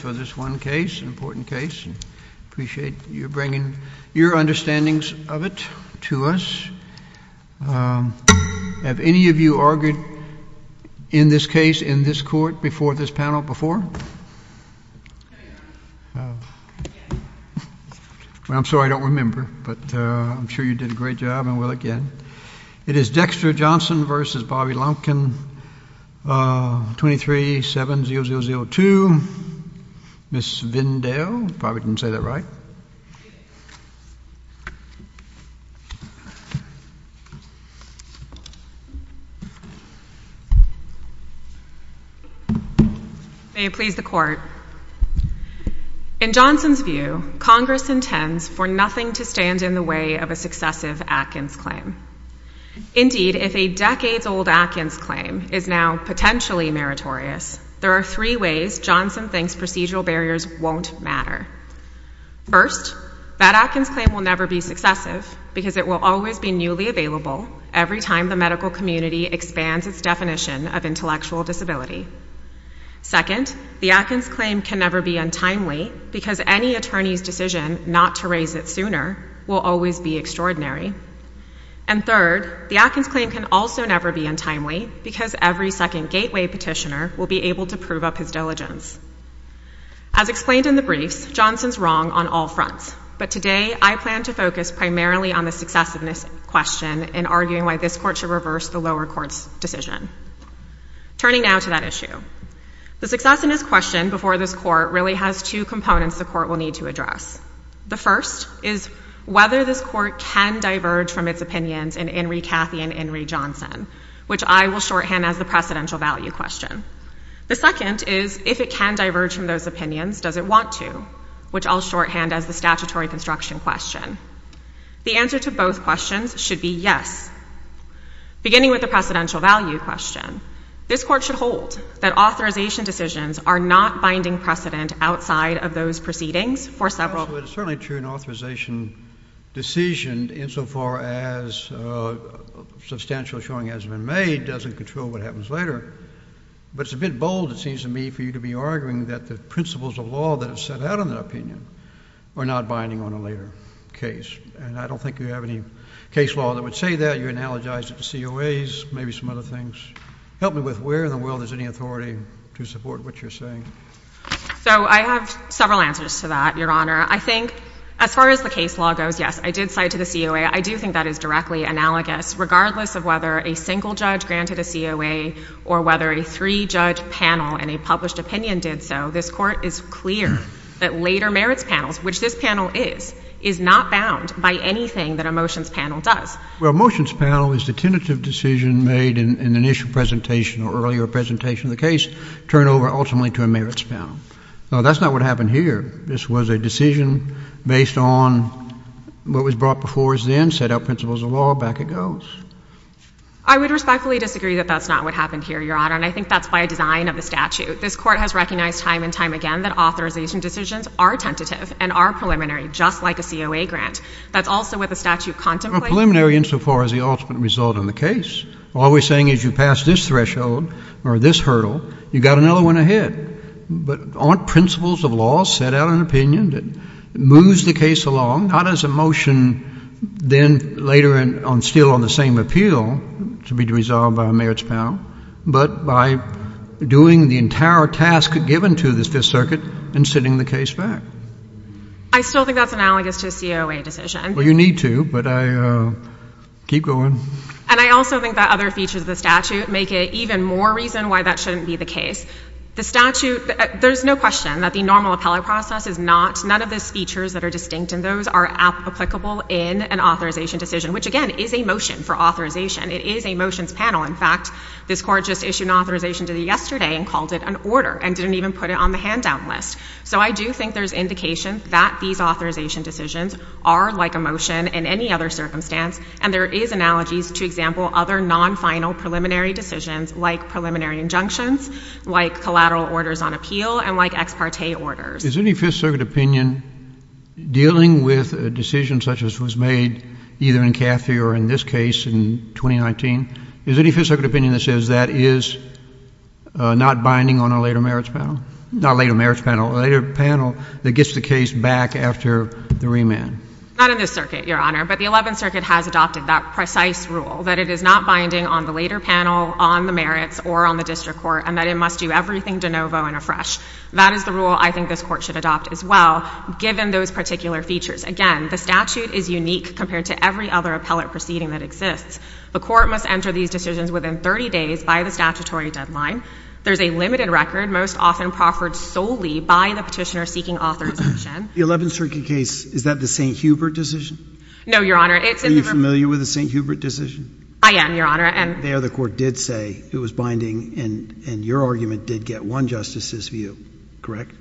for this one case, an important case. I appreciate you bringing your understandings of it to us. Have any of you argued in this case, in this court, before this panel before? I'm sorry I don't remember, but I'm sure you did a great job and will again. It is Dexter Johnson v. Bobby Lumpkin, 23-7002. Ms. Vindale, if I didn't say that right. May it please the court. In Johnson's view, Congress intends for nothing to stand in the way of a successive Atkins claim. Indeed, if a decades-old Atkins claim is now potentially meritorious, there are three ways Johnson thinks procedural barriers won't matter. First, that Atkins claim will never be successive because it will always be newly available every time the medical community expands its definition of intellectual disability. Second, the Atkins claim can never be untimely because any attorney's decision not to raise it sooner will always be extraordinary. And third, the Atkins claim can also never be untimely because every second gateway petitioner will be able to prove up his diligence. As explained in the briefs, Johnson's wrong on all fronts, but today I plan to focus primarily on the successiveness question in arguing why this court should reverse the lower court's decision. Turning now to that issue. The successiveness question before this court really has two components the court will need to address. The first is whether this court can diverge from its opinions in Henry Cathy and Henry Johnson, which I will shorthand as the precedential value question. The second is if it can diverge from those opinions, does it want to, which I'll shorthand as the statutory construction question. The answer to both questions should be yes. Beginning with the precedential value question, this court should hold that authorization decisions are not binding precedent outside of those proceedings for several. It's certainly true an authorization decision insofar as substantial showing has been made doesn't control what happens later, but it's a bit bold it seems to me for you to be arguing that the principles of law that are set out in the opinion are not binding on a later case. And I don't think you have any case law that would say that. You analogize it to COAs, maybe some other things. Help me with where in the world there's any authority to support what you're saying. So I have several answers to that, Your Honor. I think as far as the case law goes, yes, I did cite to the COA. I do think that is directly analogous. Regardless of whether a single judge granted a COA or whether a three-judge panel in a published opinion did so, this court is clear that later merits panels, which this panel is, is not bound by anything that a motions panel does. Well, a motions panel is the tentative decision made in an initial presentation or earlier presentation of the case turned over ultimately to a merits panel. Now, that's not what happened here. This was a decision based on what was brought before us then, set out principles of law, back it goes. I would respectfully disagree that that's not what happened here, Your Honor, and I think that's by design of the statute. This court has recognized time and time again that authorization decisions are tentative and are preliminary, just like a COA grant. That's also what the statute contemplates. Well, preliminary insofar as the ultimate result in the case. All we're saying is you pass this threshold or this hurdle, you've got another one ahead. But aren't principles of law set out in an opinion that moves the case along? How does a motion then later instill on the same appeal to be resolved by a merits panel, but by doing the entire task given to the Fifth Circuit and sending the case back? I still think that's analogous to a COA decision. Well, you need to, but I keep going. And I also think that other features of the statute make it even more reason why that shouldn't be the case. The statute, there's no question that the normal appellate process is not, none of those features that are distinct in those are applicable in an authorization decision, which again is a motion for authorization. It is a motions panel. In fact, this court just issued an authorization yesterday and called it an order and didn't even put it on the hand down list. So I do think there's indication that these authorization decisions are like a motion in any other circumstance. And there is analogies, to example, other non-final preliminary decisions like preliminary injunctions, like collateral orders on appeal and like ex parte orders. Is any Fifth Circuit opinion dealing with a decision such as was made either in Cathy or in this case in 2019? Is there any Fifth Circuit opinion that says that is not binding on a later merits panel? Not a later merits panel, a later panel that gets the case back after the remand? Not in this circuit, Your Honor. But the Eleventh Circuit has adopted that precise rule, that it is not binding on the later panel, on the merits, or on the district court, and that it must do everything de novo and afresh. That is the rule I think this court should adopt as well, given those particular features. Again, the statute is unique compared to every other appellate proceeding that exists. The court must enter these decisions within 30 days by the statutory deadline. There's a limited record, most often proffered solely by the petitioner seeking authorization. The Eleventh Circuit case, is that the St. Hubert decision? No, Your Honor. Are you familiar with the St. Hubert decision? I am, Your Honor. There, the court did say it was binding, and your argument did get one justice's view, correct?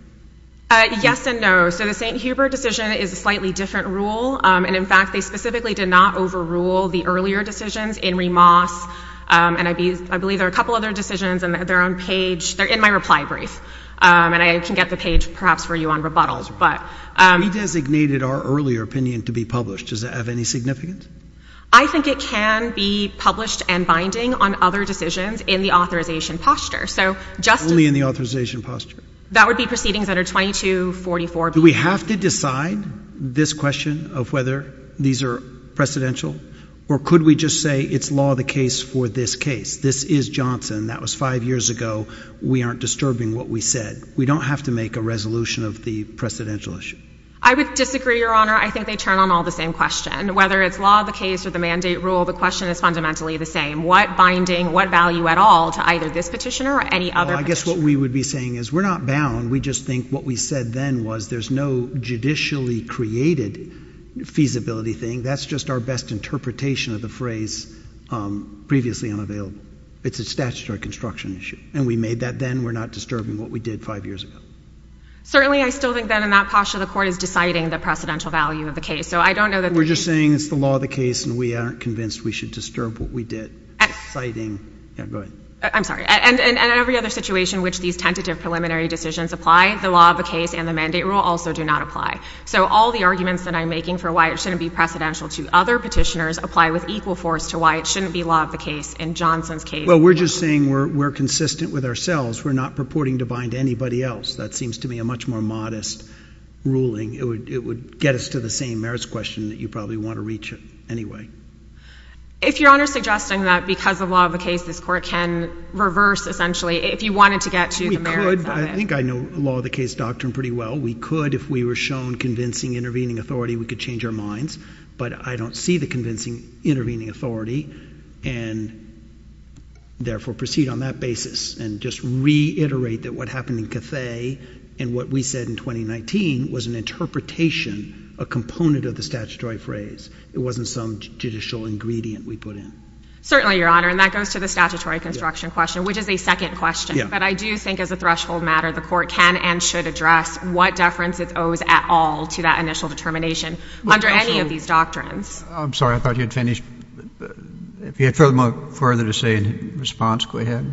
Yes and no. So the St. Hubert decision is a slightly different rule. And in fact, they specifically did not overrule the earlier decisions in remass. And I believe there are a couple other decisions on their own page. They're in my reply brief. And I can get the page, perhaps, for you on rebuttals, but... We designated our earlier opinion to be published. Does that have any significance? I think it can be published and binding on other decisions in the authorization posture. So just as... Only in the authorization posture. That would be proceedings under 2244B. Do we have to decide this question of whether these are precedential? Or could we just say it's law of the case for this case? This is Johnson. That was five years ago. We aren't disturbing what we said. We don't have to make a resolution of the precedential issue. I would disagree, Your Honor. I think they turn on all the same question. Whether it's law of the case or the mandate rule, the question is fundamentally the same. What binding, what value at all to either this petitioner or any other petitioner? Well, I guess what we would be saying is we're not bound. We just think what we said then was there's no judicially created feasibility thing. That's just our best interpretation of the phrase previously unavailable. It's a statutory construction issue. And we made that then. We're not disturbing what we did five years ago. Certainly, I still think that in that posture, the Court is deciding the precedential value of the case. So I don't know that... We're just saying it's the law of the case and we aren't convinced we should disturb what we did, citing... Yeah, go ahead. I'm sorry. And in every other situation in which these tentative preliminary decisions apply, the law of the case and the mandate rule also do not apply. So all the arguments that I'm making for why it shouldn't be precedential to other petitioners apply with equal force to why it shouldn't be law of the case in Johnson's case. Well, we're just saying we're consistent with ourselves. We're not purporting to bind anybody else. That seems to me a much more modest ruling. It would get us to the same merits question that you probably want to reach it anyway. If Your Honour's suggesting that because of law of the case, this Court can reverse essentially if you wanted to get to the merits of it. We could. I think I know law of the case doctrine pretty well. We could if we were shown convincing intervening authority, we could change our minds. But I don't see the convincing intervening authority and therefore proceed on that basis and just reiterate that what happened in Cathay and what we said in 2019 was an interpretation, a component of the statutory phrase. It wasn't some judicial ingredient we put in. Certainly, Your Honour. And that goes to the statutory construction question, which is a second question. But I do think as a threshold matter, the Court can and should address what deference it owes at all to that initial determination under any of these doctrines. I'm sorry. I thought you had finished. If you had further to say in response, go ahead.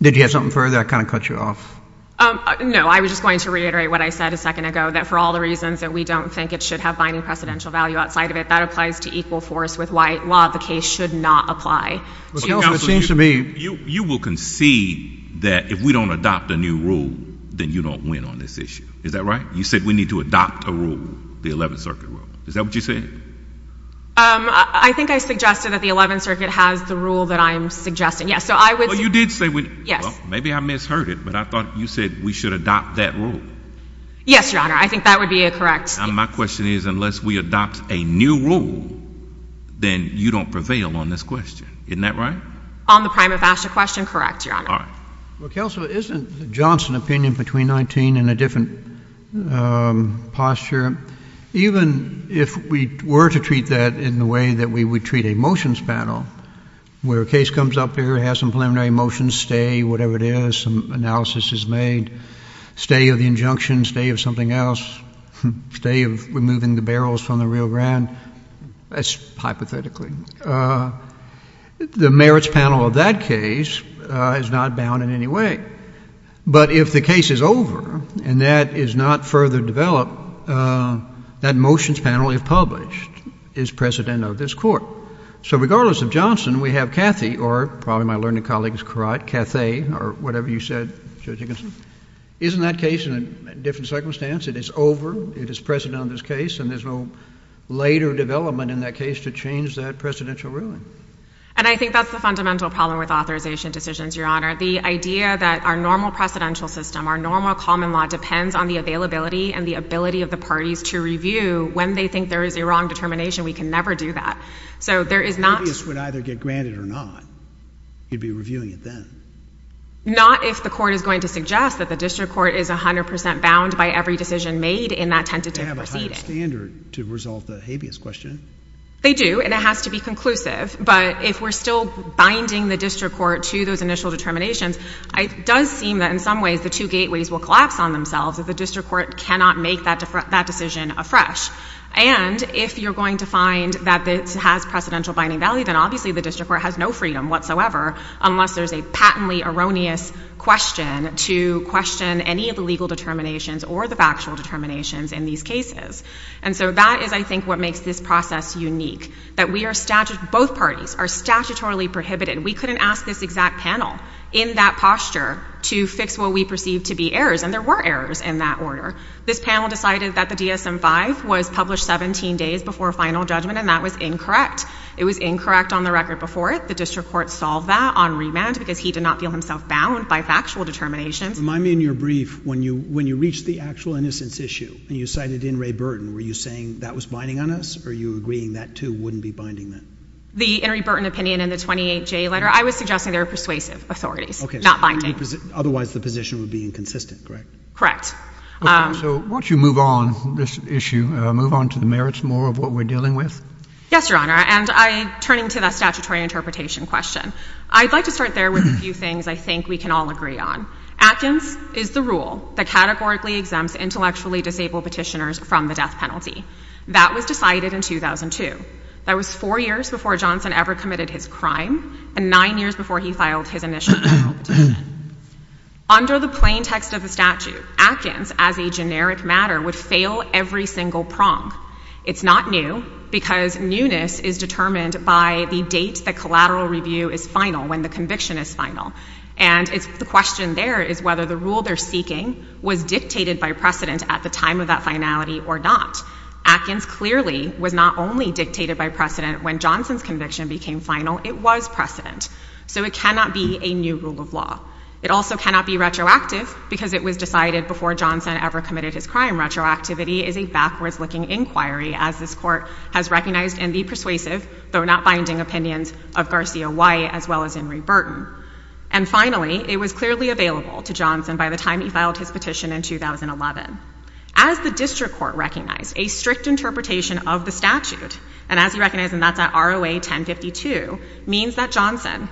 Did you have something further? I kind of cut you off. No. I was just going to reiterate what I said a second ago, that for all the reasons that we don't think it should have binding precedential value outside of it, that applies to equal force with law of the case should not apply. Counsel, it seems to me — You will concede that if we don't adopt a new rule, then you don't win on this issue. Is that right? You said we need to adopt a rule, the Eleventh Circuit rule. Is that what you said? I think I suggested that the Eleventh Circuit has the rule that I'm suggesting. Yes, so I would — Well, you did say — Yes. Maybe I misheard it, but I thought you said we should adopt that rule. Yes, Your Honour. I think that would be a correct — My question is, unless we adopt a new rule, then you don't prevail on this question. Isn't that right? On the prima facie question, correct, Your Honour. All right. Well, counsel, isn't the Johnson opinion between 19 and a different posture? Even if we were to treat that in the way that we would treat a motions panel, where a case comes up here, has some preliminary motions, stay, whatever it is, some analysis is made, stay of the injunction, stay of something else, stay of removing the barrels from the case. But if the case is over and that is not further developed, that motions panel, if published, is precedent of this Court. So regardless of Johnson, we have Cathy, or probably my learned colleague is correct, Cathay, or whatever you said, Judge Dickinson. Isn't that case in a different circumstance? It is over, it is precedent on this case, and there's no later development in that case to change that precedential ruling. And I think that's the fundamental problem with authorization decisions, Your Honour. The idea that our normal precedential system, our normal common law depends on the availability and the ability of the parties to review. When they think there is a wrong determination, we can never do that. So there is not... The habeas would either get granted or not. You'd be reviewing it then. Not if the Court is going to suggest that the District Court is 100% bound by every decision made in that tentative proceeding. They have a higher standard to resolve the habeas question. They do, and it has to be conclusive. But if we're still binding the District Court to those initial determinations, it does seem that in some ways the two gateways will collapse on themselves if the District Court cannot make that decision afresh. And if you're going to find that this has precedential binding value, then obviously the District Court has no freedom whatsoever unless there's a patently erroneous question to question any of the legal determinations or the factual determinations in these cases. And so that is, I think, what makes this process unique. That we are statute... Both parties are statutorily prohibited. We couldn't ask this exact panel in that posture to fix what we perceive to be errors, and there were errors in that order. This panel decided that the DSM-5 was published 17 days before final judgment, and that was incorrect. It was incorrect on the record before it. The District Court solved that on remand because he did not feel himself bound by factual determinations. Remind me in your brief, when you reached the actual innocence issue, and you cited in Ray Burden, were you saying that was binding on us, or are you agreeing that, too, wouldn't be binding then? The Henry Burton opinion in the 28J letter, I was suggesting they were persuasive authorities, not binding. Otherwise, the position would be inconsistent, correct? Correct. Okay, so once you move on this issue, move on to the merits more of what we're dealing with? Yes, Your Honor, and turning to that statutory interpretation question, I'd like to start there with a few things I think we can all agree on. Atkins is the rule that categorically exempts intellectually disabled petitioners from the death penalty. That was decided in 2002. That was four years before Johnson ever committed his crime, and nine years before he filed his initial report. Under the plain text of the statute, Atkins, as a generic matter, would fail every single prong. It's not new because newness is determined by the date the collateral review is final, when the conviction is final, and it's the question there is whether the rule they're seeking was dictated by precedent at the time of that finality or not. Atkins clearly was not only dictated by precedent when Johnson's conviction became final. It was precedent. So it cannot be a new rule of law. It also cannot be retroactive because it was decided before Johnson ever committed his crime. Retroactivity is a backwards-looking inquiry, as this Court has recognized in the persuasive, though not binding, opinions of Garcia White as well as And finally, it was clearly available to Johnson by the time he filed his petition in 2011. As the District Court recognized, a strict interpretation of the statute, and as you recognize, and that's at ROA 1052, means that Johnson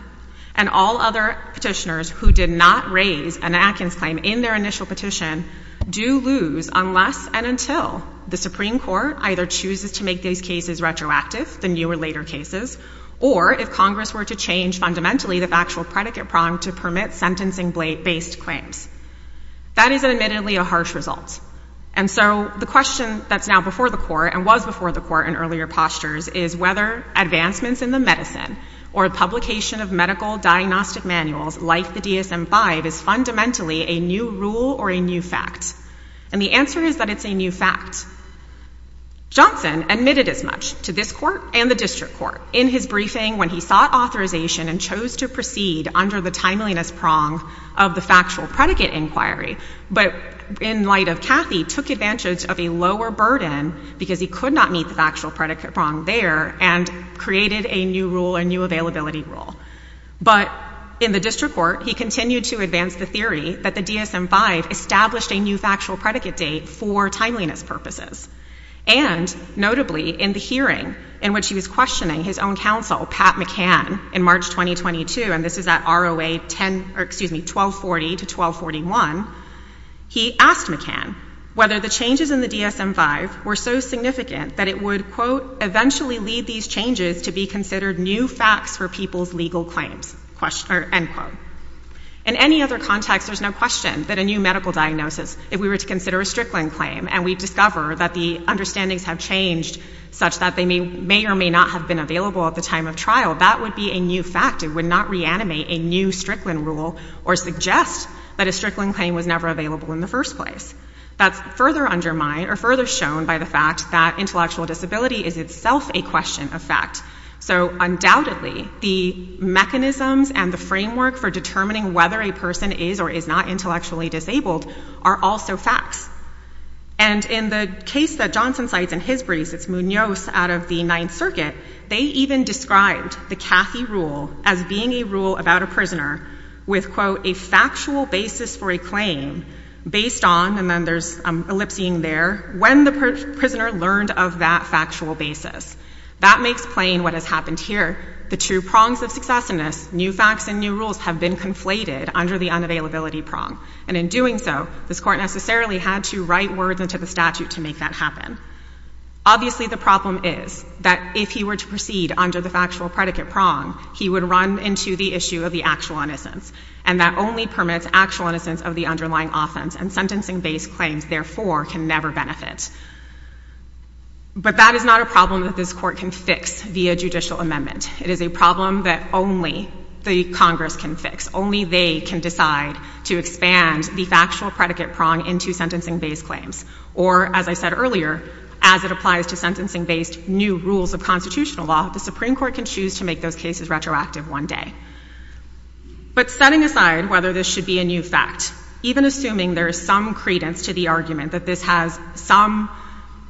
and all other petitioners who did not raise an Atkins claim in their initial petition do lose unless and until the Supreme Court either chooses to make these cases retroactive, the newer, later cases, or if Congress were to change fundamentally the factual predicate prong to permit sentencing-based claims. That is admittedly a harsh result. And so the question that's now before the Court, and was before the Court in earlier postures, is whether advancements in the medicine or publication of medical diagnostic manuals like the DSM-5 is fundamentally a new rule or a new fact. And the answer is that it's a new fact. Johnson admitted as much to this Court and the District Court in his briefing when he sought authorization and chose to proceed under the timeliness prong of the factual predicate inquiry, but in light of Cathy, took advantage of a lower burden because he could not meet the factual predicate prong there and created a new rule, a new availability rule. But in the District Court, he continued to advance the theory that the DSM-5 established a new factual predicate date for timeliness purposes. And notably, in the hearing in which he was questioning his own counsel, Pat McCann, in March 2022, and this is at ROA 10, excuse me, 1240 to 1241, he asked McCann whether the changes in the DSM-5 were so significant that it would, quote, eventually lead these changes to be considered new facts for people's legal claims, end quote. In any other context, there's no question that a new medical diagnosis, if we were to consider a Strickland claim, and we discover that the understandings have changed such that they may or may not have been available at the time of trial, that would be a new fact. It would not reanimate a new Strickland rule or suggest that a Strickland claim was never available in the first place. That's further undermined or further shown by the fact that intellectual disability is itself a question of fact. So undoubtedly, the mechanisms and the framework for determining whether a person is or is not intellectually disabled are also facts. And in the case that Johnson cites in his briefs, it's Munoz out of the Ninth Circuit, they even described the Cathy rule as being a rule about a prisoner with, quote, a factual basis for a claim based on, and then there's ellipsing there, when the prisoner learned of that factual basis. That makes plain what has happened here. The two prongs of successiveness, new facts and new rules, have been conflated under the unavailability prong, and in doing so, this Court necessarily had to write words into the statute to make that happen. Obviously, the problem is that if he were to proceed under the factual predicate prong, he would run into the issue of the actual innocence, and that only permits actual innocence of the underlying offense, and sentencing-based claims, therefore, can never benefit. But that is not a problem that this Court can fix via judicial amendment. It is a problem that only the Congress can fix, only they can decide to expand the factual predicate prong into sentencing-based claims, or, as I said earlier, as it applies to sentencing-based new rules of constitutional law, the Supreme Court can choose to make those cases retroactive one day. But setting aside whether this should be a new fact, even assuming there is some credence to the argument that this has some,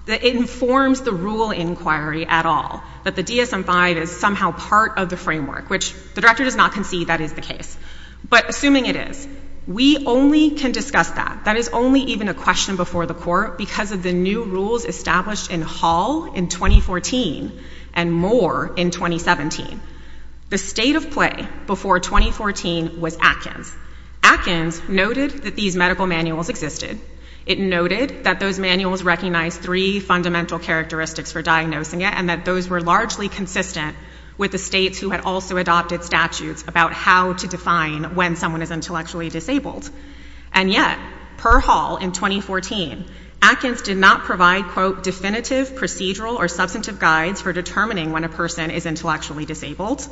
that it informs the rule inquiry at all, that the DSM-5 is somehow part of the framework, which the Director does not concede that is the case, but assuming it is, we only can discuss that. That is only even a question before the Court because of the new rules established in Hall in 2014, and more in 2017. The state of play before 2014 was Atkins. Atkins noted that these medical manuals existed. It noted that those manuals recognized three fundamental characteristics for diagnosing it, and that those were largely consistent with the states who had also adopted statutes about how to define when someone is intellectually disabled. And yet, per Hall in 2014, Atkins did not provide, quote, definitive, procedural, or substantive guides for determining when a person is intellectually disabled.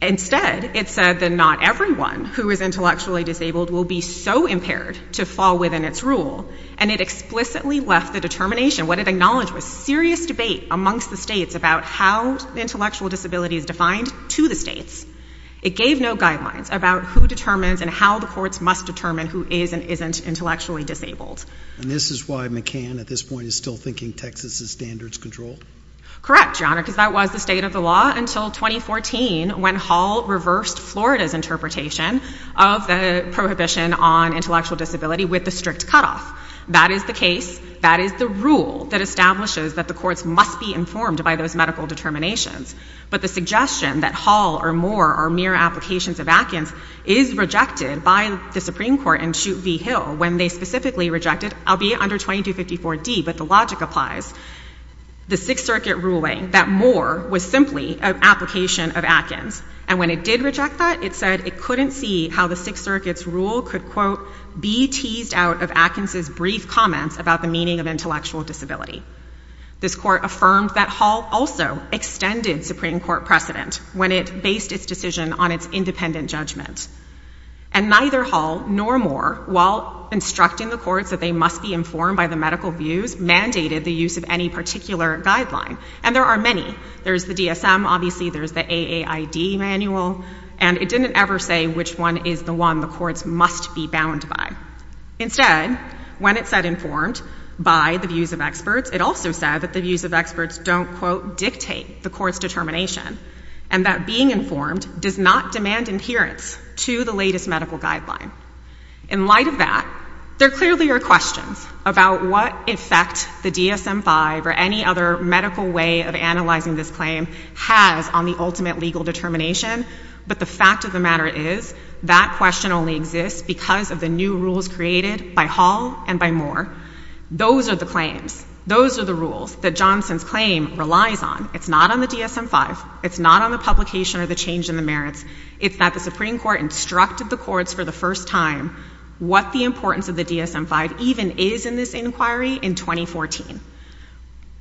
Instead, it said that not everyone who is intellectually disabled will be so impaired to fall within its rule, and it explicitly left the determination, what it acknowledged was serious debate amongst the states about how intellectual disability is defined to the states. It gave no guidelines about who determines and how the courts must determine who is and isn't intellectually disabled. And this is why McCann at this point is still thinking Texas's standards control. Correct, Your Honor, because that was the state of the law until 2014 when Hall reversed Florida's interpretation of the prohibition on intellectual disability with the strict cutoff. That is the case. That is the rule that establishes that the courts must be informed by those medical determinations. But the suggestion that Hall or Moore are mere applications of Atkins is rejected by the Supreme Court in Chute v. Hill when they specifically rejected, albeit under 2254d, but the logic applies, the Sixth Circuit ruling that Moore was simply an application of Atkins. And when it did reject that, it said it couldn't see how the Sixth Circuit's rule could, quote, be teased out of Atkins' brief comments about the meaning of intellectual disability. This court affirmed that Hall also extended Supreme Court precedent when it based its decision on its independent judgment. And neither Hall nor Moore, while instructing the courts that they must be informed by the medical views, mandated the use of any particular guideline. And there are many. There's the DSM, obviously. There's the AAID manual. And it didn't ever say which one is the one the courts must be bound by. Instead, when it said informed by the views of experts, it also said that the views of experts don't, quote, dictate the court's determination and that being informed does not demand adherence to the latest medical guideline. In light of that, there clearly are questions about what effect the DSM-5 or any other medical way of analyzing this claim has on the ultimate legal determination. But the fact of the matter is that question only exists because of the new rules created by Hall and by Moore. Those are the claims. Those are the rules that Johnson's claim relies on. It's not on the DSM-5. It's not on the publication or the change in the merits. It's that the Supreme Court instructed the courts for the first time what the importance of the DSM-5 even is in this inquiry in 2014.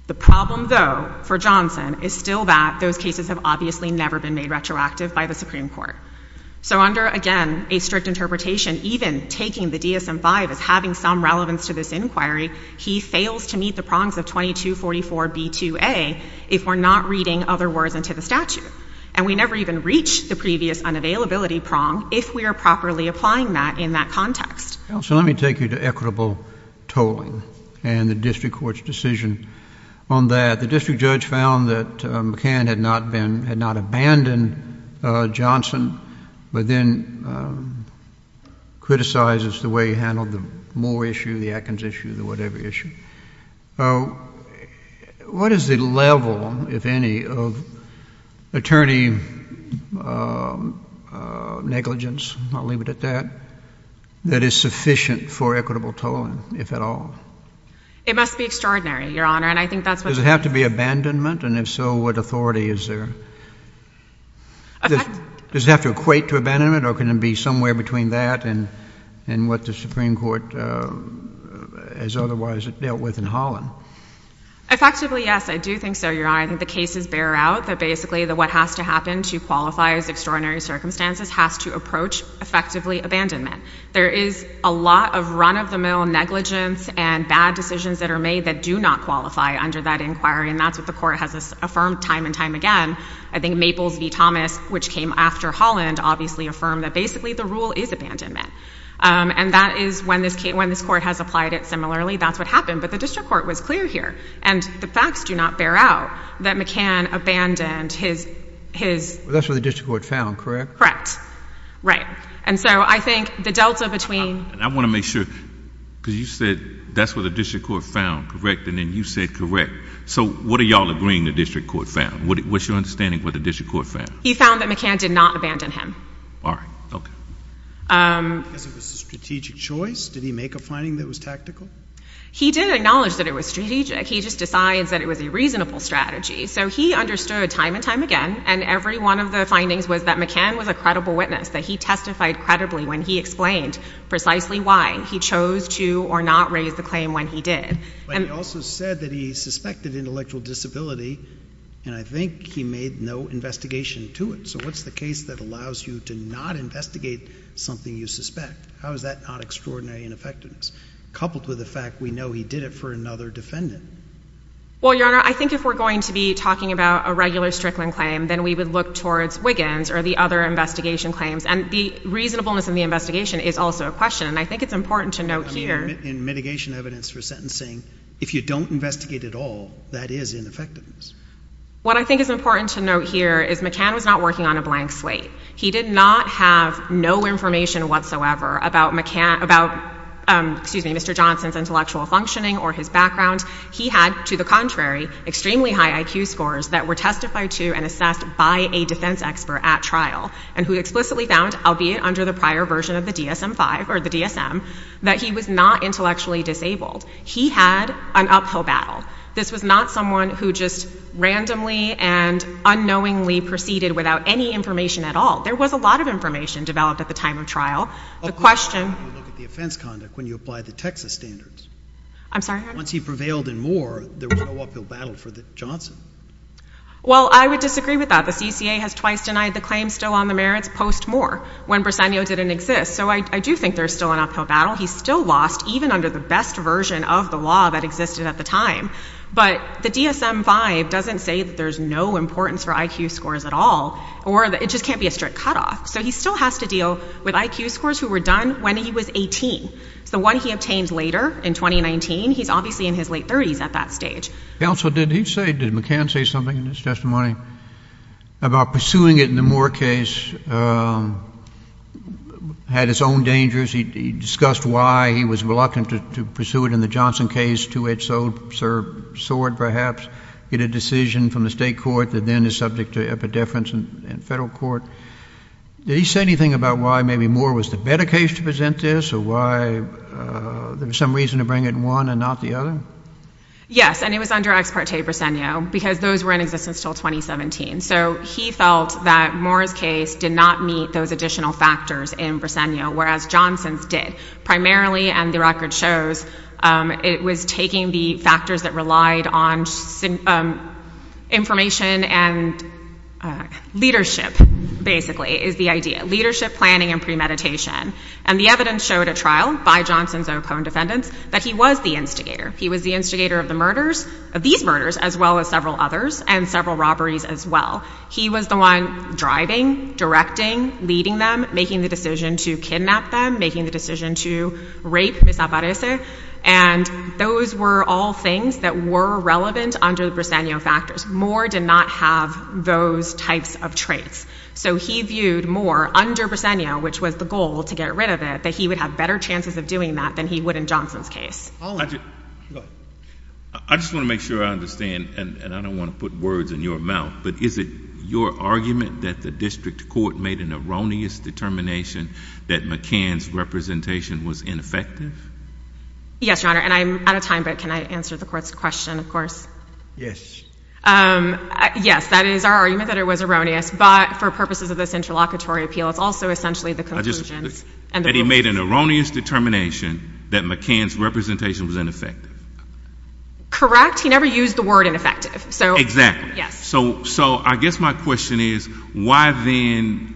The problem, though, for Johnson is still that those cases have obviously never been made retroactive by the Supreme Court. So under, again, a strict interpretation, even taking the DSM-5 as having some relevance to this inquiry, he fails to meet the prongs of 2244b2a if we're not reading other words into the statute. And we never even reach the previous unavailability prong if we are properly applying that in that context. So let me take you to equitable tolling and the district court's decision on that. The district judge found that McCann had not abandoned Johnson but then criticizes the way he handled the Moore issue, the Atkins issue, the whatever issue. What is the level, if any, of attorney negligence, I'll leave it at that, that is sufficient for equitable tolling, if at all? It must be extraordinary, Your Honor, and I think that's what... Does it have to be abandonment? And if so, what authority is there? Does it have to equate to abandonment or can it be somewhere between that and what the Supreme Court has otherwise dealt with in Holland? Effectively, yes, I do think so, Your Honor. I think the cases bear out that basically what has to happen to qualify as extraordinary circumstances has to approach effectively abandonment. There is a lot of run-of-the-mill negligence and bad decisions that are made that do not qualify under that inquiry, and that's what the court has affirmed time and time again. I think Maples v. Thomas, which came after Holland, obviously affirmed that basically the rule is abandonment. And that is when this court has applied it similarly, that's what happened. But the district court was clear here, and the facts do not bear out that McCann abandoned his... That's what the district court found, correct? Correct. Right. And so I think the delta between... I want to make sure, because you said that's what the district court found, correct? And then you said correct. So what are y'all agreeing the district court found? What's your understanding what the district court found? He found that McCann did not abandon him. All right, okay. Because it was a strategic choice? Did he make a finding that was tactical? He didn't acknowledge that it was strategic. He just decides that it was a reasonable strategy. So he understood time and time again, and every one of the findings was that McCann was a credible when he explained precisely why he chose to or not raise the claim when he did. But he also said that he suspected intellectual disability, and I think he made no investigation to it. So what's the case that allows you to not investigate something you suspect? How is that not extraordinary in effectiveness, coupled with the fact we know he did it for another defendant? Well, Your Honor, I think if we're going to be talking about a regular Strickland claim, then we would look towards Wiggins or the other investigation claims. And the reasonableness in the investigation is also a question, and I think it's important to note here... In mitigation evidence for sentencing, if you don't investigate at all, that is ineffectiveness. What I think is important to note here is McCann was not working on a blank slate. He did not have no information whatsoever about McCann, about, excuse me, Mr. Johnson's intellectual functioning or his background. He had, to the contrary, extremely high IQ scores that were testified to and assessed by a defense expert at trial, and who explicitly found, albeit under the prior version of the DSM-5, or the DSM, that he was not intellectually disabled. He had an uphill battle. This was not someone who just randomly and unknowingly proceeded without any information at all. There was a lot of information developed at the time of trial. The question... How do you look at the offense conduct when you apply the Texas standards? I'm sorry, Your Honor? Once he prevailed in Moore, there was no uphill battle for Johnson. Well, I would disagree with that. The CCA has twice denied the claim still on the merits post-Moore, when Briseno didn't exist. So I do think there's still an uphill battle. He still lost, even under the best version of the law that existed at the time. But the DSM-5 doesn't say that there's no importance for IQ scores at all, or it just can't be a strict cutoff. So he still has to deal with IQ scores who were done when he was 18. It's the one he obtained later, in 2019. He's obviously in his late 30s at that stage. Counsel, did he say, did McCann say something in his testimony about pursuing it in the Moore case had its own dangers? He discussed why he was reluctant to pursue it in the Johnson case, two-edged sword, perhaps, get a decision from the state court that then is subject to epideference in federal court. Did he say anything about why maybe Moore was the better case to present this, or why there was some reason to bring it in one and not the other? Yes, and it was under ex parte briseño, because those were in existence until 2017. So he felt that Moore's case did not meet those additional factors in briseño, whereas Johnson's did. Primarily, and the record shows, it was taking the factors that relied on information and leadership, basically, is the idea. Leadership, planning, and premeditation. And the evidence showed at trial, by Johnson's opponent defendants, that he was the instigator. He was the instigator of the murders, of these murders, as well as several others, and several robberies as well. He was the one driving, directing, leading them, making the decision to kidnap them, making the decision to rape Miss Aparece. And those were all things that were relevant under the briseño factors. Moore did not have those types of traits. So he viewed Moore, under briseño, which was the goal to get rid of it, that he would have better chances of doing that than he would in Johnson's case. I just want to make sure I understand, and I don't want to put words in your mouth, but is it your argument that the district court made an erroneous determination that McCann's representation was ineffective? Yes, Your Honor, and I'm out of time, but can I answer the court's question, of course? Yes. Yes, that is our argument, that it was erroneous, but for purposes of this interlocutory appeal, it's also essentially the conclusions. That he made an erroneous determination that McCann's representation was ineffective. Correct. He never used the word ineffective. Exactly. So I guess my question is, why then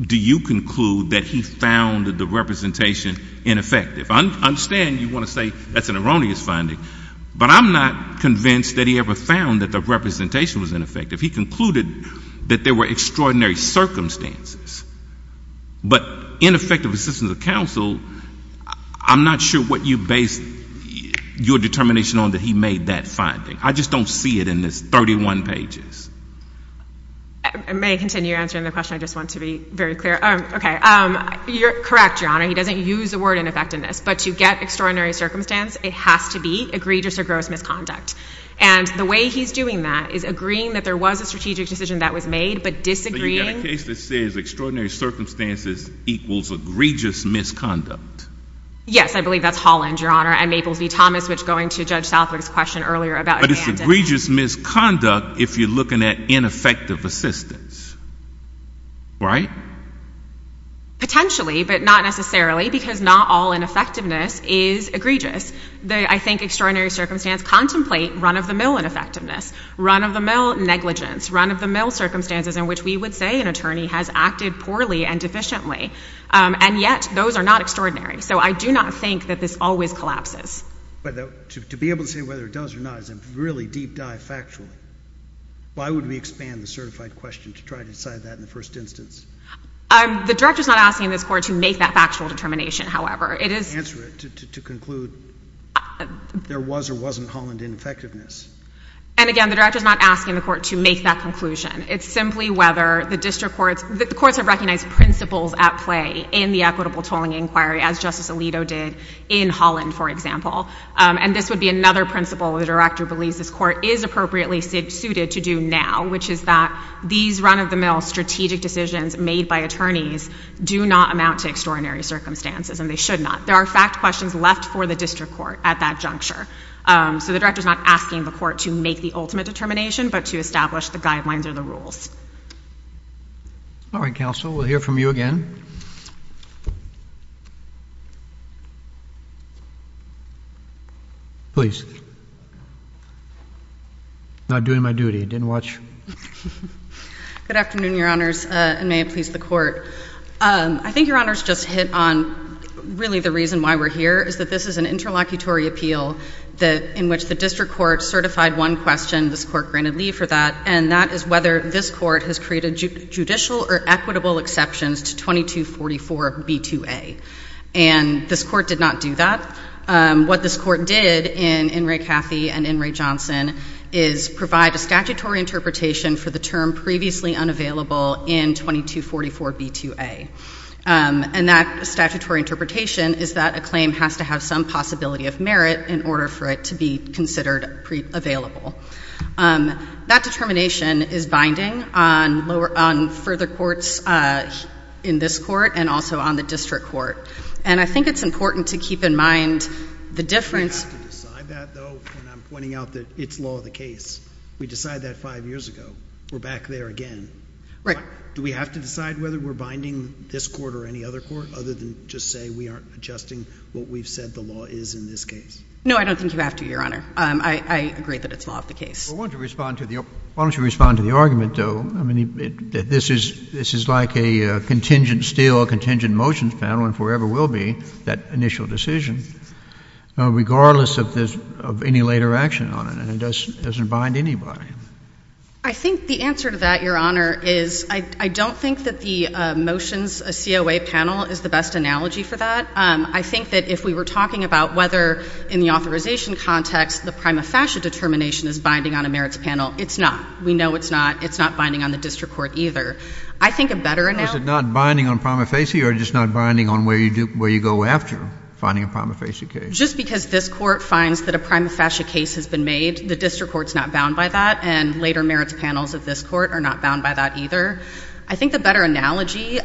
do you conclude that he found the representation ineffective? I understand you want to say that's an erroneous finding, but I'm not convinced that he ever found that the representation was ineffective. He concluded that there were circumstances, but ineffective assistance of counsel, I'm not sure what you based your determination on that he made that finding. I just don't see it in this 31 pages. May I continue answering the question? I just want to be very clear. Okay. Correct, Your Honor, he doesn't use the word ineffectiveness, but to get extraordinary circumstance, it has to be egregious or gross misconduct. And the way he's doing that is agreeing that there was a strategic decision that was made, but disagreeing... So you've got a case that says extraordinary circumstances equals egregious misconduct. Yes, I believe that's Holland, Your Honor, and Maples v. Thomas, which going to Judge Southwick's question earlier about... But it's egregious misconduct if you're looking at ineffective assistance, right? Potentially, but not necessarily, because not all ineffectiveness is egregious. I think extraordinary circumstance contemplate run-of-the-mill ineffectiveness, run-of-the-mill negligence, run-of-the-mill circumstances in which we would say an attorney has acted poorly and deficiently. And yet, those are not extraordinary. So I do not think that this always collapses. But to be able to say whether it does or not is a really deep dive factually. Why would we expand the certified question to try to decide that in the first instance? The Director's not asking this Court to make that factual determination, however. It is... Answer it to conclude there was or wasn't Holland ineffectiveness. And again, the Director's not asking the Court to make that conclusion. It's simply whether the District Courts... The Courts have recognized principles at play in the equitable tolling inquiry, as Justice Alito did in Holland, for example. And this would be another principle the Director believes this Court is appropriately suited to do now, which is that these run-of-the-mill strategic decisions made by attorneys do not amount to extraordinary circumstances, and they should not. There are fact questions left for the District Court at that juncture. So the Director's not asking the Court to make the ultimate determination, but to establish the guidelines or the rules. All right, Counsel. We'll hear from you again. Please. Not doing my duty. Didn't watch. Good afternoon, Your Honors, and may it please the Court. I think Your Honors just hit on, really, the reason why we're here, is that this is an interlocutory appeal in which the District Court certified one question. This Court granted leave for that, and that is whether this Court has created judicial or equitable exceptions to 2244b2a. And this Court did not do that. What this Court did in In re Cathy and in Ray Johnson is provide a statutory interpretation for the term previously unavailable in 2244b2a. And that statutory interpretation is that a claim has to have some possibility of merit in order for it to be considered pre-available. That determination is binding on further courts in this Court and also on the District Court. And I think it's important to keep in mind the difference. We have to decide that, though, when I'm pointing out that it's law of the case. We decided that five years ago. We're back there again. Right. Do we have to decide whether we're binding this Court or any other Court, other than just say we aren't adjusting what we've said the is in this case? No, I don't think you have to, Your Honor. I agree that it's law of the case. Well, why don't you respond to the argument, though? I mean, this is like a contingent steel, contingent motions panel and forever will be, that initial decision, regardless of any later action on it. And it doesn't bind anybody. I think the answer to that, Your Honor, is I don't think that the motions COA panel is the best analogy for that. I think that if we were talking about whether in the authorization context the prima facie determination is binding on a merits panel, it's not. We know it's not. It's not binding on the District Court either. I think a better analogy... Is it not binding on prima facie or just not binding on where you go after finding a prima facie case? Just because this Court finds that a prima facie case has been made, the District Court's not bound by that and later merits panels of this Court are not bound by that either. I think the better analogy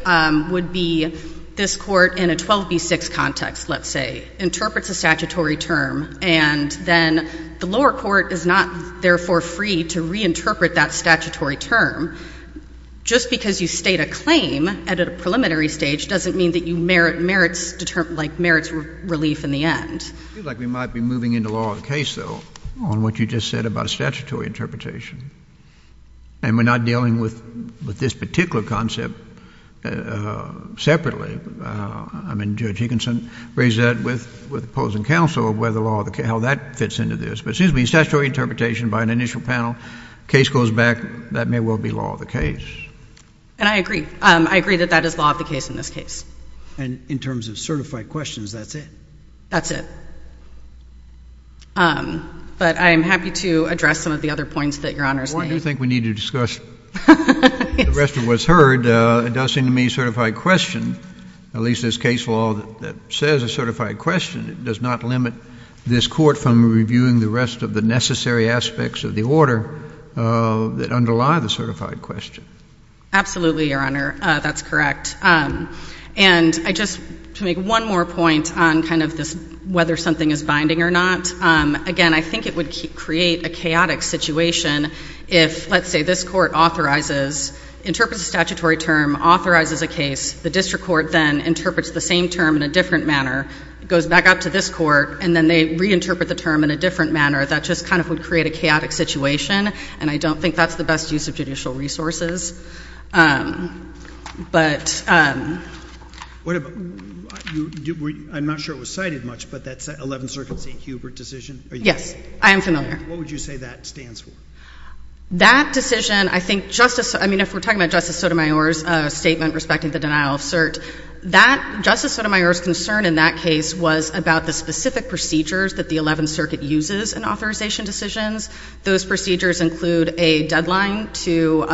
would be this Court in a 12B6 context, let's say, interprets a statutory term and then the lower court is not therefore free to reinterpret that statutory term. Just because you state a claim at a preliminary stage doesn't mean that you merit merits relief in the end. I feel like we might be moving into law of the case, though, on what you just said about a statutory interpretation. And we're not dealing with this particular concept separately. I mean, Judge Ekinson raised that with opposing counsel of whether law of the case, how that fits into this. But it seems to me statutory interpretation by an initial panel, case goes back, that may well be law of the case. And I agree. I agree that that is law of the case in this case. And in terms of certified questions, that's it? That's it. But I'm happy to address some of the other points that Your Honor's made. Well, I do think we need to discuss the rest of what's heard. It does seem to me certified question, at least this case law that says a certified question, it does not limit this Court from reviewing the rest of the necessary aspects of the order that underlie the certified question. Absolutely, Your Honor. That's correct. And I just, to make one more point on kind of this, whether something is binding or not, again, I think it would create a chaotic situation if, let's say, this Court authorizes, interprets a statutory term, authorizes a case, the District Court then interprets the same term in a different manner, goes back up to this Court, and then they reinterpret the term in a different manner. That just kind of would create a chaotic situation. And I don't think that's the best use of judicial resources. But... I'm not sure it was cited much, but that 11th Circuit St. Hubert decision? Yes, I am familiar. What would you say that stands for? That decision, I think, Justice, I mean, if we're talking about Justice Sotomayor's statement respecting the denial of cert, that, Justice Sotomayor's concern in that case was about the specific procedures that the 11th Circuit uses in authorization decisions. Those procedures include a deadline to,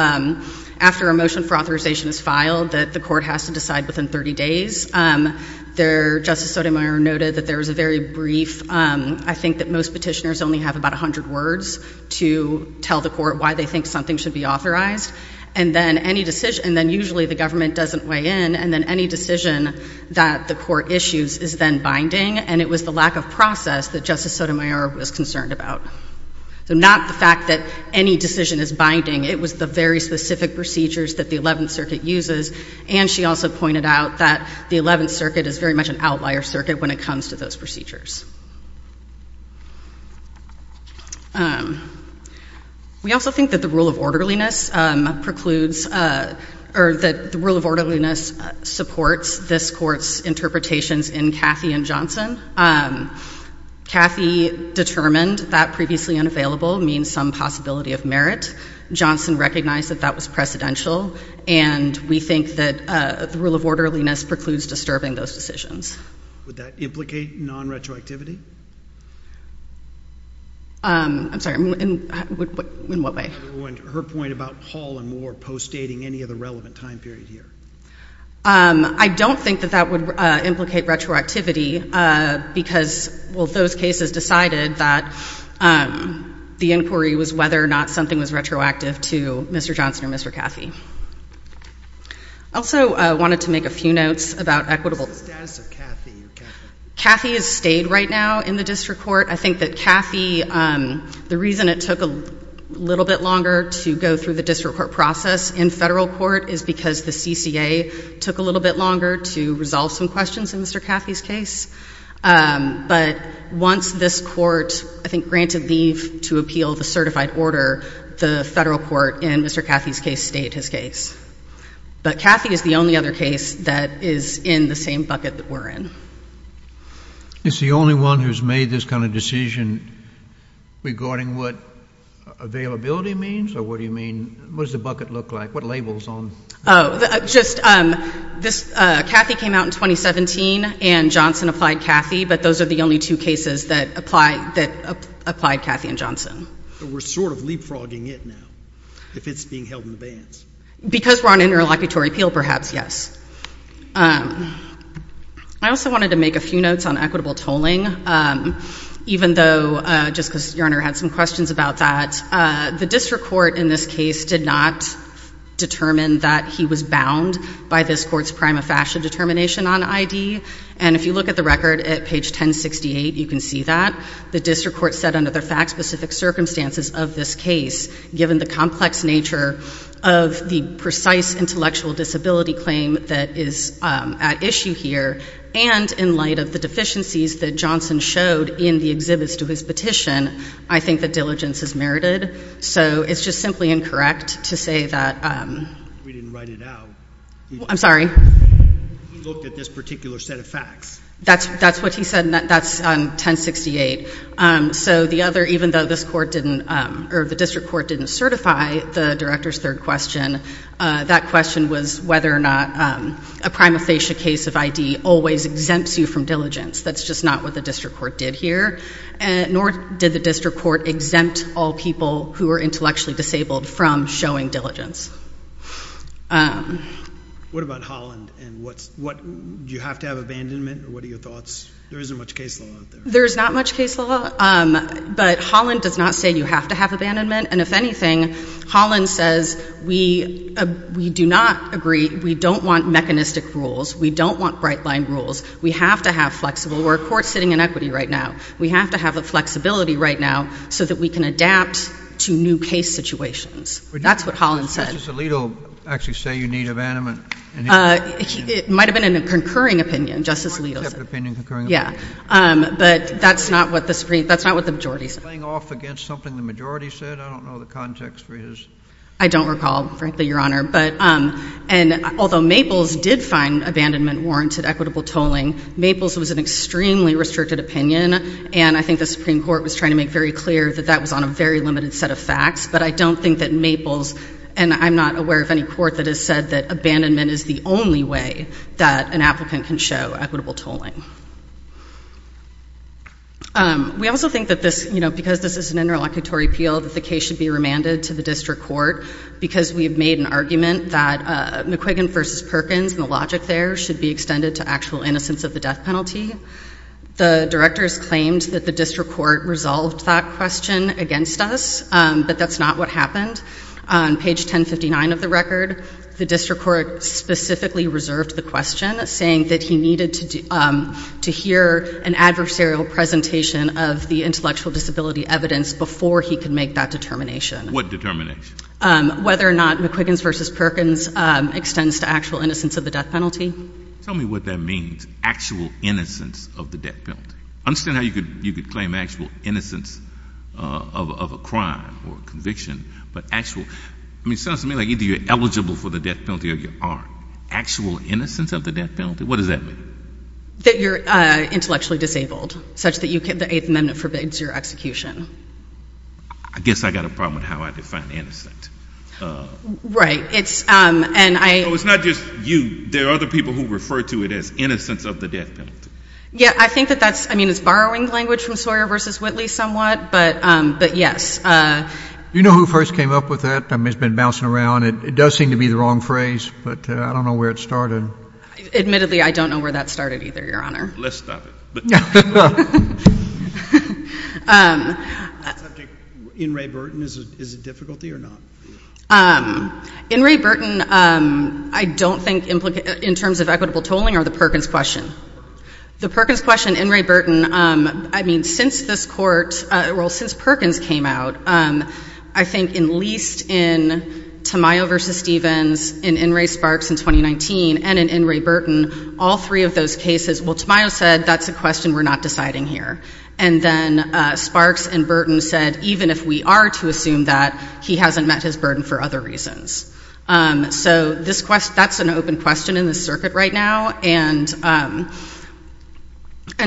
after a motion for authorization is filed, that the Court has to decide within 30 days. Justice Sotomayor noted that there was a very brief, I think that most petitioners only have about 100 words to tell the Court why they think something should be authorized. And then usually the government doesn't weigh in, and then any decision that the Court issues is then binding. And it was the lack of process that Justice Sotomayor was concerned about. Not the fact that any decision is binding. It was the very specific procedures that the 11th Circuit uses. And she also pointed out that the 11th Circuit is very much an outlier circuit when it comes to those procedures. We also think that the rule of orderliness precludes, or that the rule of orderliness supports this Court's interpretations in Cathy and Johnson. Cathy determined that previously unavailable means some possibility of merit. Johnson recognized that that was precedential. And we think that the rule of orderliness precludes disturbing those decisions. Would that implicate non-retroactivity? I'm sorry, in what way? Her point about Hall and Moore postdating any other relevant time period here. I don't think that that would implicate retroactivity because, well, those cases decided that the inquiry was whether or not something was retroactive to Mr. Johnson or Mr. Cathy. I also wanted to make a few notes about equitable status. Cathy is stayed right now in the District Court. I think that Cathy, the reason it took a little bit longer to go through the District Court process in Federal Court is because the CCA took a little bit longer to resolve some questions in Mr. Cathy's case. But once this Court, I think, granted leave to appeal the certified order, the Federal Court in Mr. Cathy's case stayed his case. But Cathy is the only other case that is in the same bucket that we're in. It's the only one who's made this kind of decision regarding what availability means or what do you mean, what does the bucket look like, what labels on? Oh, just this, Cathy came out in 2017 and Johnson applied Cathy, but those are the only two cases that apply, that applied Cathy and Johnson. We're sort of leapfrogging it now, if it's being held in the bands. Because we're on interlocutory appeal, perhaps, yes. I also wanted to make a few notes on equitable tolling, even though, just because Your Honor had some questions about that, the District Court in this case did not determine that he was bound by this Court's prima facie determination on ID. And if you look at the record at page 1068, you can see that. The District Court said under the fact-specific circumstances of this case, given the complex nature of the precise intellectual disability claim that is at issue here, and in light of the deficiencies that Johnson showed in the exhibits to his petition, I think that diligence is merited. So it's just simply incorrect to say that- We didn't write it out. I'm sorry? We looked at this particular set of facts. That's what he said, and that's on 1068. So the other, even though this Court didn't, or the District Court didn't certify the Director's third question, that question was whether or not a prima facie case of ID always exempts you from diligence. That's just not what the District Court did here, nor did the District Court exempt all people who are intellectually disabled from showing diligence. What about Holland? Do you have to have abandonment, or what are your thoughts? There isn't much case law out there. There's not much case law, but Holland does not say you have to have abandonment, and if anything, Holland says we do not agree. We don't want mechanistic rules. We don't want bright-line rules. We have to have flexible. We're a court sitting in equity right now. We have to have a flexibility right now so that we can adapt to new case situations. That's what Holland said. Did Justice Alito actually say you need abandonment? It might have been a concurring opinion, Justice Alito said. Court-accepted opinion, concurring opinion. But that's not what the majority said. Playing off against something the majority said? I don't know the context for his... I don't recall, frankly, Your Honor. Although Maples did find abandonment warranted equitable tolling, Maples was an extremely restricted opinion, and I think the Supreme Court was trying to make very clear that that was on a very limited set of facts, but I don't think that Maples, and I'm not aware of any court that has said that abandonment is the only way that an applicant can show equitable tolling. We also think that this, you know, because this is an interlocutory appeal, that the case should be remanded to the district court because we've made an argument that McQuiggan versus Perkins, and the logic there should be extended to actual innocence of the death penalty. The directors claimed that the district court resolved that question against us, but that's not what happened. On page 1059 of the record, the district court specifically reserved the question, saying that he needed to hear an adversarial presentation of the intellectual disability evidence before he could make that determination. What determination? Whether or not McQuiggan versus Perkins extends to actual innocence of the death penalty. Tell me what that means, actual innocence of the death penalty. I understand how you could claim actual innocence of a crime or conviction, but actual... I mean, it sounds to me like either you're eligible for the death penalty or you aren't. Actual innocence of the death penalty? What does that mean? That you're intellectually disabled, such that the Eighth Amendment forbids your execution. I guess I've got a problem with how I define innocent. Right. It's... No, it's not just you. There are other people who refer to it as innocence of the death penalty. Yeah, I think that that's... I mean, it's borrowing language from Sawyer versus Whitley somewhat, but yes. Do you know who first came up with that? I mean, it's been bouncing around. It does seem to be the wrong phrase, but I don't know where it started. Admittedly, I don't know where that started either, Your Honor. Let's stop it. That subject, In re Burton, is a difficulty or not? In re Burton, I don't think in terms of equitable tolling are the Perkins question. The Perkins question, In re Burton, I mean, since this court... Well, since Perkins came out, I think at least in Tamayo versus Stevens, in In re Sparks in 2019, and in In re Burton, all three of those cases, well, Tamayo said, that's a question we're not deciding here. And then Sparks and Burton said, even if we are to assume that, he hasn't met his burden for other reasons. So that's an open question in the circuit right now. And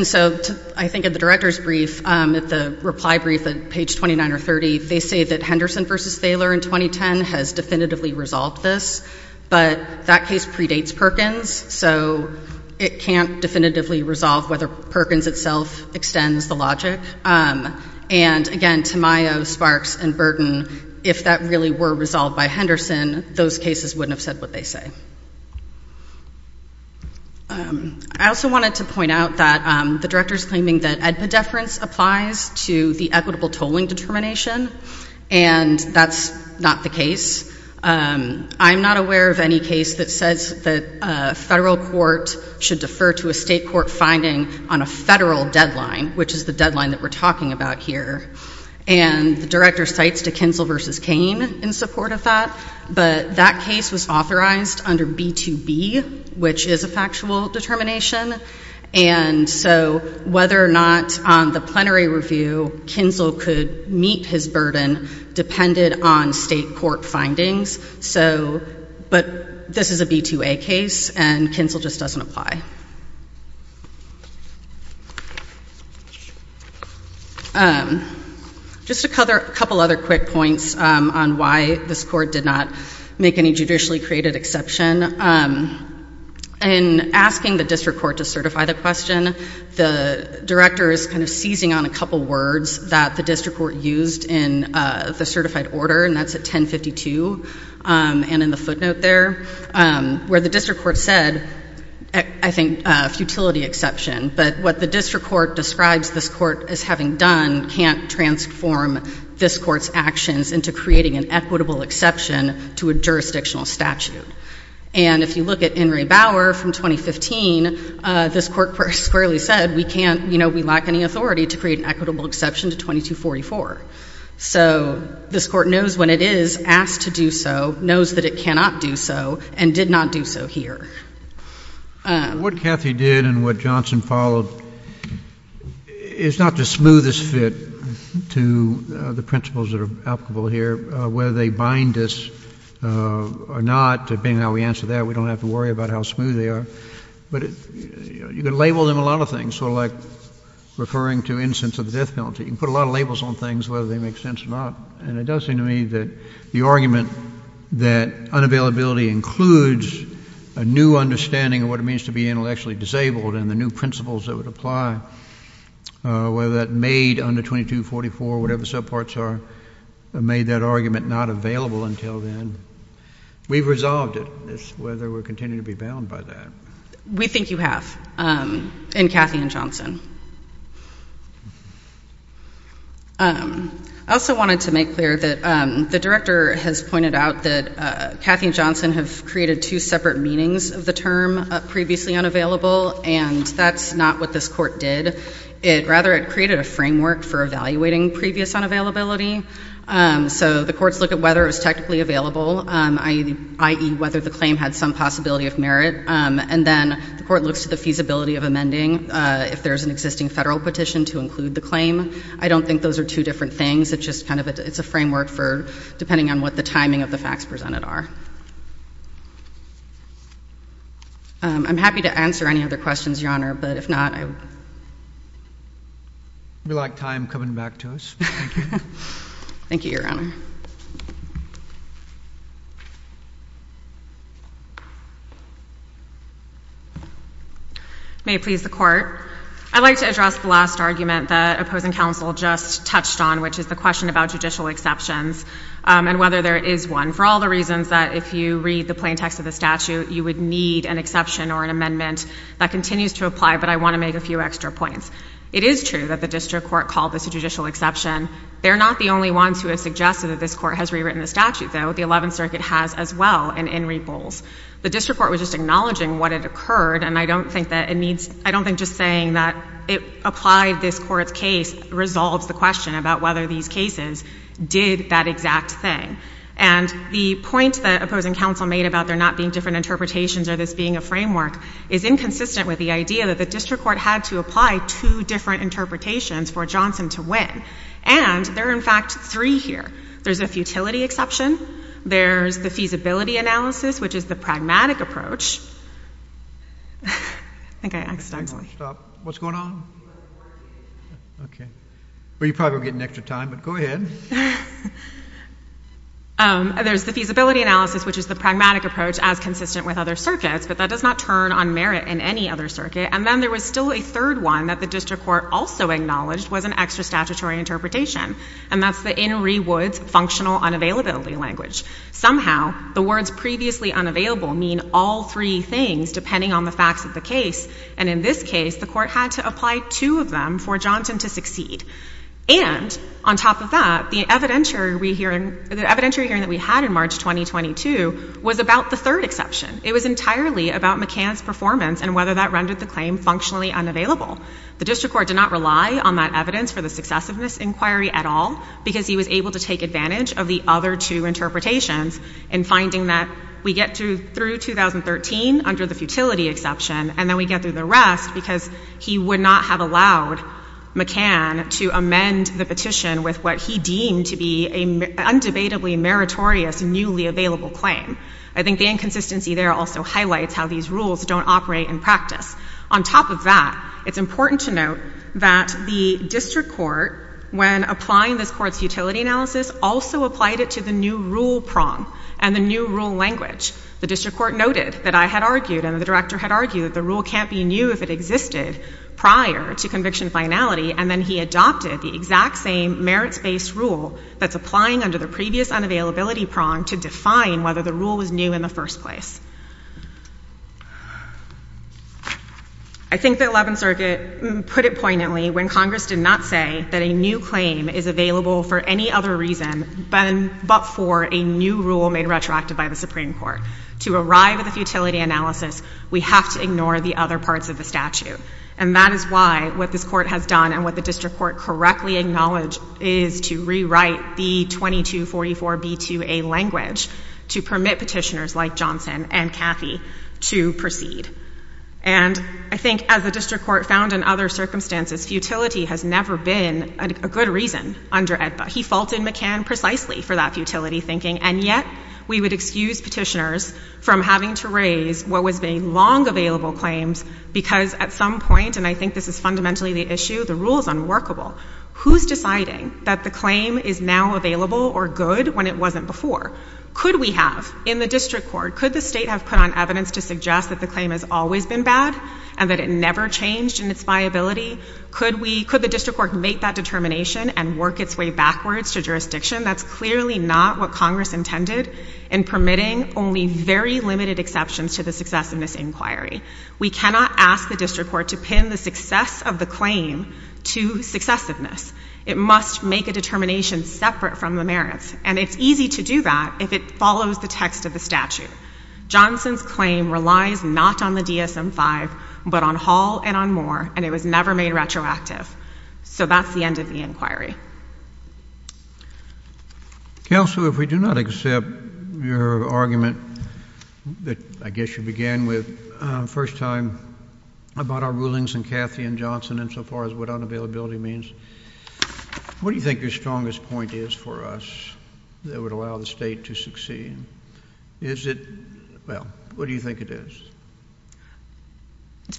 so I think at the director's brief, at the reply brief at page 29 or 30, they say that Henderson versus Thaler in 2010 has definitively resolved this. But that case predates Perkins, so it can't definitively resolve whether Perkins itself extends the logic. And again, Tamayo, Sparks, and Burton, if that really were resolved by Henderson, those cases wouldn't have said what they say. I also wanted to point out that the director's claiming that EDPA deference applies to the equitable tolling determination, and that's not the case. I'm not aware of any case that says that a federal court should defer to a state court finding on a federal deadline, which is the deadline that we're talking about here. And the director cites DeKinsel versus Kane in support of that, but that case was authorized under B2B, which is a factual determination. And so whether or not on the plenary review, Kinsel could meet his burden depended on state court findings. But this is a B2A case, and Kinsel just doesn't apply. Just a couple other quick points on why this court did not make any judicially created exception. In asking the district court to certify the question, the director is kind of seizing on a couple words that the district court used in the certified order, and that's at 1052 and in the footnote there, where the district court said, I think, futility exception. But what the district court describes this court as having done can't transform this court's actions into creating an equitable exception to a jurisdictional statute. And if you look at Henry Bauer from 2015, this court squarely said, we lack any authority to create an equitable exception to 2244. So this court knows when it is asked to do so, knows that it cannot do so, and did not do so here. What Kathy did and what Johnson followed is not the smoothest fit to the principles that are applicable here, whether they bind us or not, being how we answered that, we don't have to worry about how smooth they are. But you can label them a lot of things, sort of like referring to instance of the death penalty. You can put a lot of labels on things, whether they make sense or not. And it does seem to me that the argument that unavailability includes a new order of understanding of what it means to be intellectually disabled and the new principles that would apply, whether that made under 2244, whatever the subparts are, made that argument not available until then. We've resolved it. It's whether we're continuing to be bound by that. We think you have in Kathy and Johnson. I also wanted to make clear that the director has pointed out that Kathy and Johnson have created two separate meanings of the term previously unavailable, and that's not what this court did. Rather, it created a framework for evaluating previous unavailability. So the courts look at whether it was technically available, i.e., whether the claim had some possibility of merit. And then the court looks at the feasibility of amending if there's an existing federal petition to include the claim. I don't think those are two different things. It's a framework for depending on what the timing of the facts presented are. I'm happy to answer any other questions, Your Honor, but if not, I will. We lack time. Coming back to us. Thank you, Your Honor. May it please the court. I'd like to address the last argument that opposing counsel just touched on, which is the question about judicial exceptions and whether there is one. For all the reasons that if you read the plain text of the statute, you would need an exception or an amendment that continues to apply, but I want to make a few extra points. It is true that the district court called this a judicial exception. They're not the only ones who have suggested that this court has rewritten the statute, though. The Eleventh Circuit has as well, and in repose. The district court was just acknowledging what had occurred, and I don't think just saying that it applied this court's case resolves the question about whether these cases did that exact thing. And the point that opposing counsel made about there not being different interpretations or this being a framework is inconsistent with the idea that the district court had to apply two different interpretations for Johnson to win. And there are, in fact, three here. There's a futility exception. There's the feasibility analysis, which is the pragmatic approach. I think I accidentally— Stop. What's going on? Okay. Well, you're probably getting extra time, but go ahead. There's the feasibility analysis, which is the pragmatic approach as consistent with other circuits, but that does not turn on merit in any other circuit. And then there was still a third one that the district court also acknowledged was an extra statutory interpretation, and that's the Inouye Woods functional unavailability language. Somehow, the words previously unavailable mean all three things, depending on the facts of the case, and in this case, the court had to apply two of them for Johnson to succeed. And on top of that, the evidentiary hearing that we had in March 2022 was about the third exception. It was entirely about McCann's performance and whether that rendered the claim functionally unavailable. The district court did not rely on that evidence for the successiveness inquiry at all because he was able to take advantage of the other two interpretations in finding that we get through 2013 under the futility exception, and then we get through the rest because he would not have allowed McCann to amend the petition with what he deemed to be an undebatably meritorious newly available claim. I think the inconsistency there also highlights how these rules don't operate in practice. On top of that, it's important to note that the district court, when applying this court's futility analysis, also applied it to the new rule prong and the new rule language. The district court noted that I had argued and the director had argued that the rule can't be new if it existed prior to conviction finality, and then he adopted the exact same merits-based rule that's applying under the previous unavailability prong to define whether the rule was new in the first place. I think the Eleventh Circuit put it poignantly when Congress did not say that a new claim is available for any other reason but for a new rule made retroactive by the Supreme Court. To arrive at the futility analysis, we have to ignore the other parts of the statute, and that is why what this court has done and what the district court correctly acknowledged is to rewrite the 2244b2a language to permit petitioners like Johnson and Cathy to proceed. And I think as the district court found in other circumstances, futility has never been a good reason under AEDPA. He faulted McCann precisely for that futility thinking, and yet we would excuse petitioners from having to raise what was being long available claims because at some point, and I think this is fundamentally the issue, the rule is unworkable. Who's deciding that the claim is now available or good when it wasn't before? Could we have in the district court, could the state have put on evidence to suggest that the claim has always been bad and that it never changed in its viability? Could the district court make that determination and work its way backwards to jurisdiction? That's clearly not what Congress intended in permitting only very limited exceptions to the successiveness inquiry. We cannot ask the district court to pin the success of the claim to successiveness. It must make a determination separate from the merits, and it's easy to do that if it follows the text of the statute. Johnson's claim relies not on the DSM-5, but on Hall and on Moore, and it was never made retroactive. So that's the end of the inquiry. Counsel, if we do not accept your argument that I guess you began with first time about our rulings in Cathy and Johnson insofar as what unavailability means, what do you think your strongest point is for us that would allow the state to succeed? Is it, well, what do you think it is?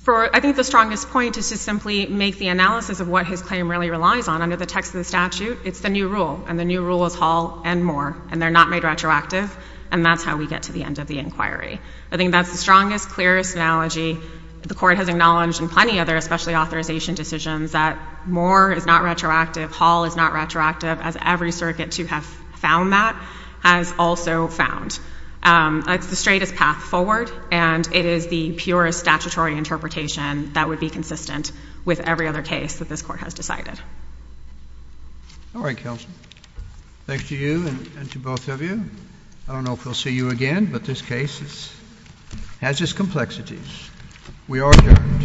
I think the strongest point is to simply make the analysis of what his claim really relies on under the text of the statute. It's the new rule, and the new rule is Hall and Moore, and they're not made retroactive, and that's how we get to the end of the inquiry. I think that's the strongest, clearest analogy the court has acknowledged in plenty other especially authorization decisions that Moore is not retroactive, Hall is not retroactive, as every circuit to have found that has also found. It's the straightest path forward, and it is the purest statutory interpretation that would be consistent with every other case that this court has decided. All right, Counsel. Thanks to you and to both of you. I don't know if we'll see you again, but this case has its complexities. We are adjourned.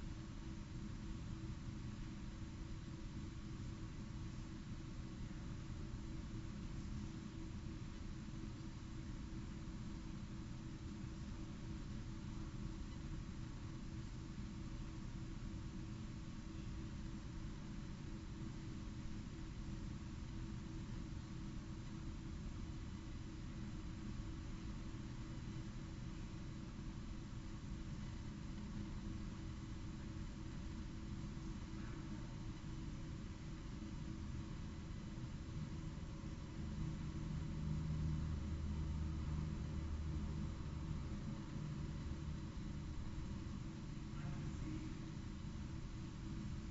Thank you. Thank you. Thank you. Thank you. Thank you. Thank you. Thank you.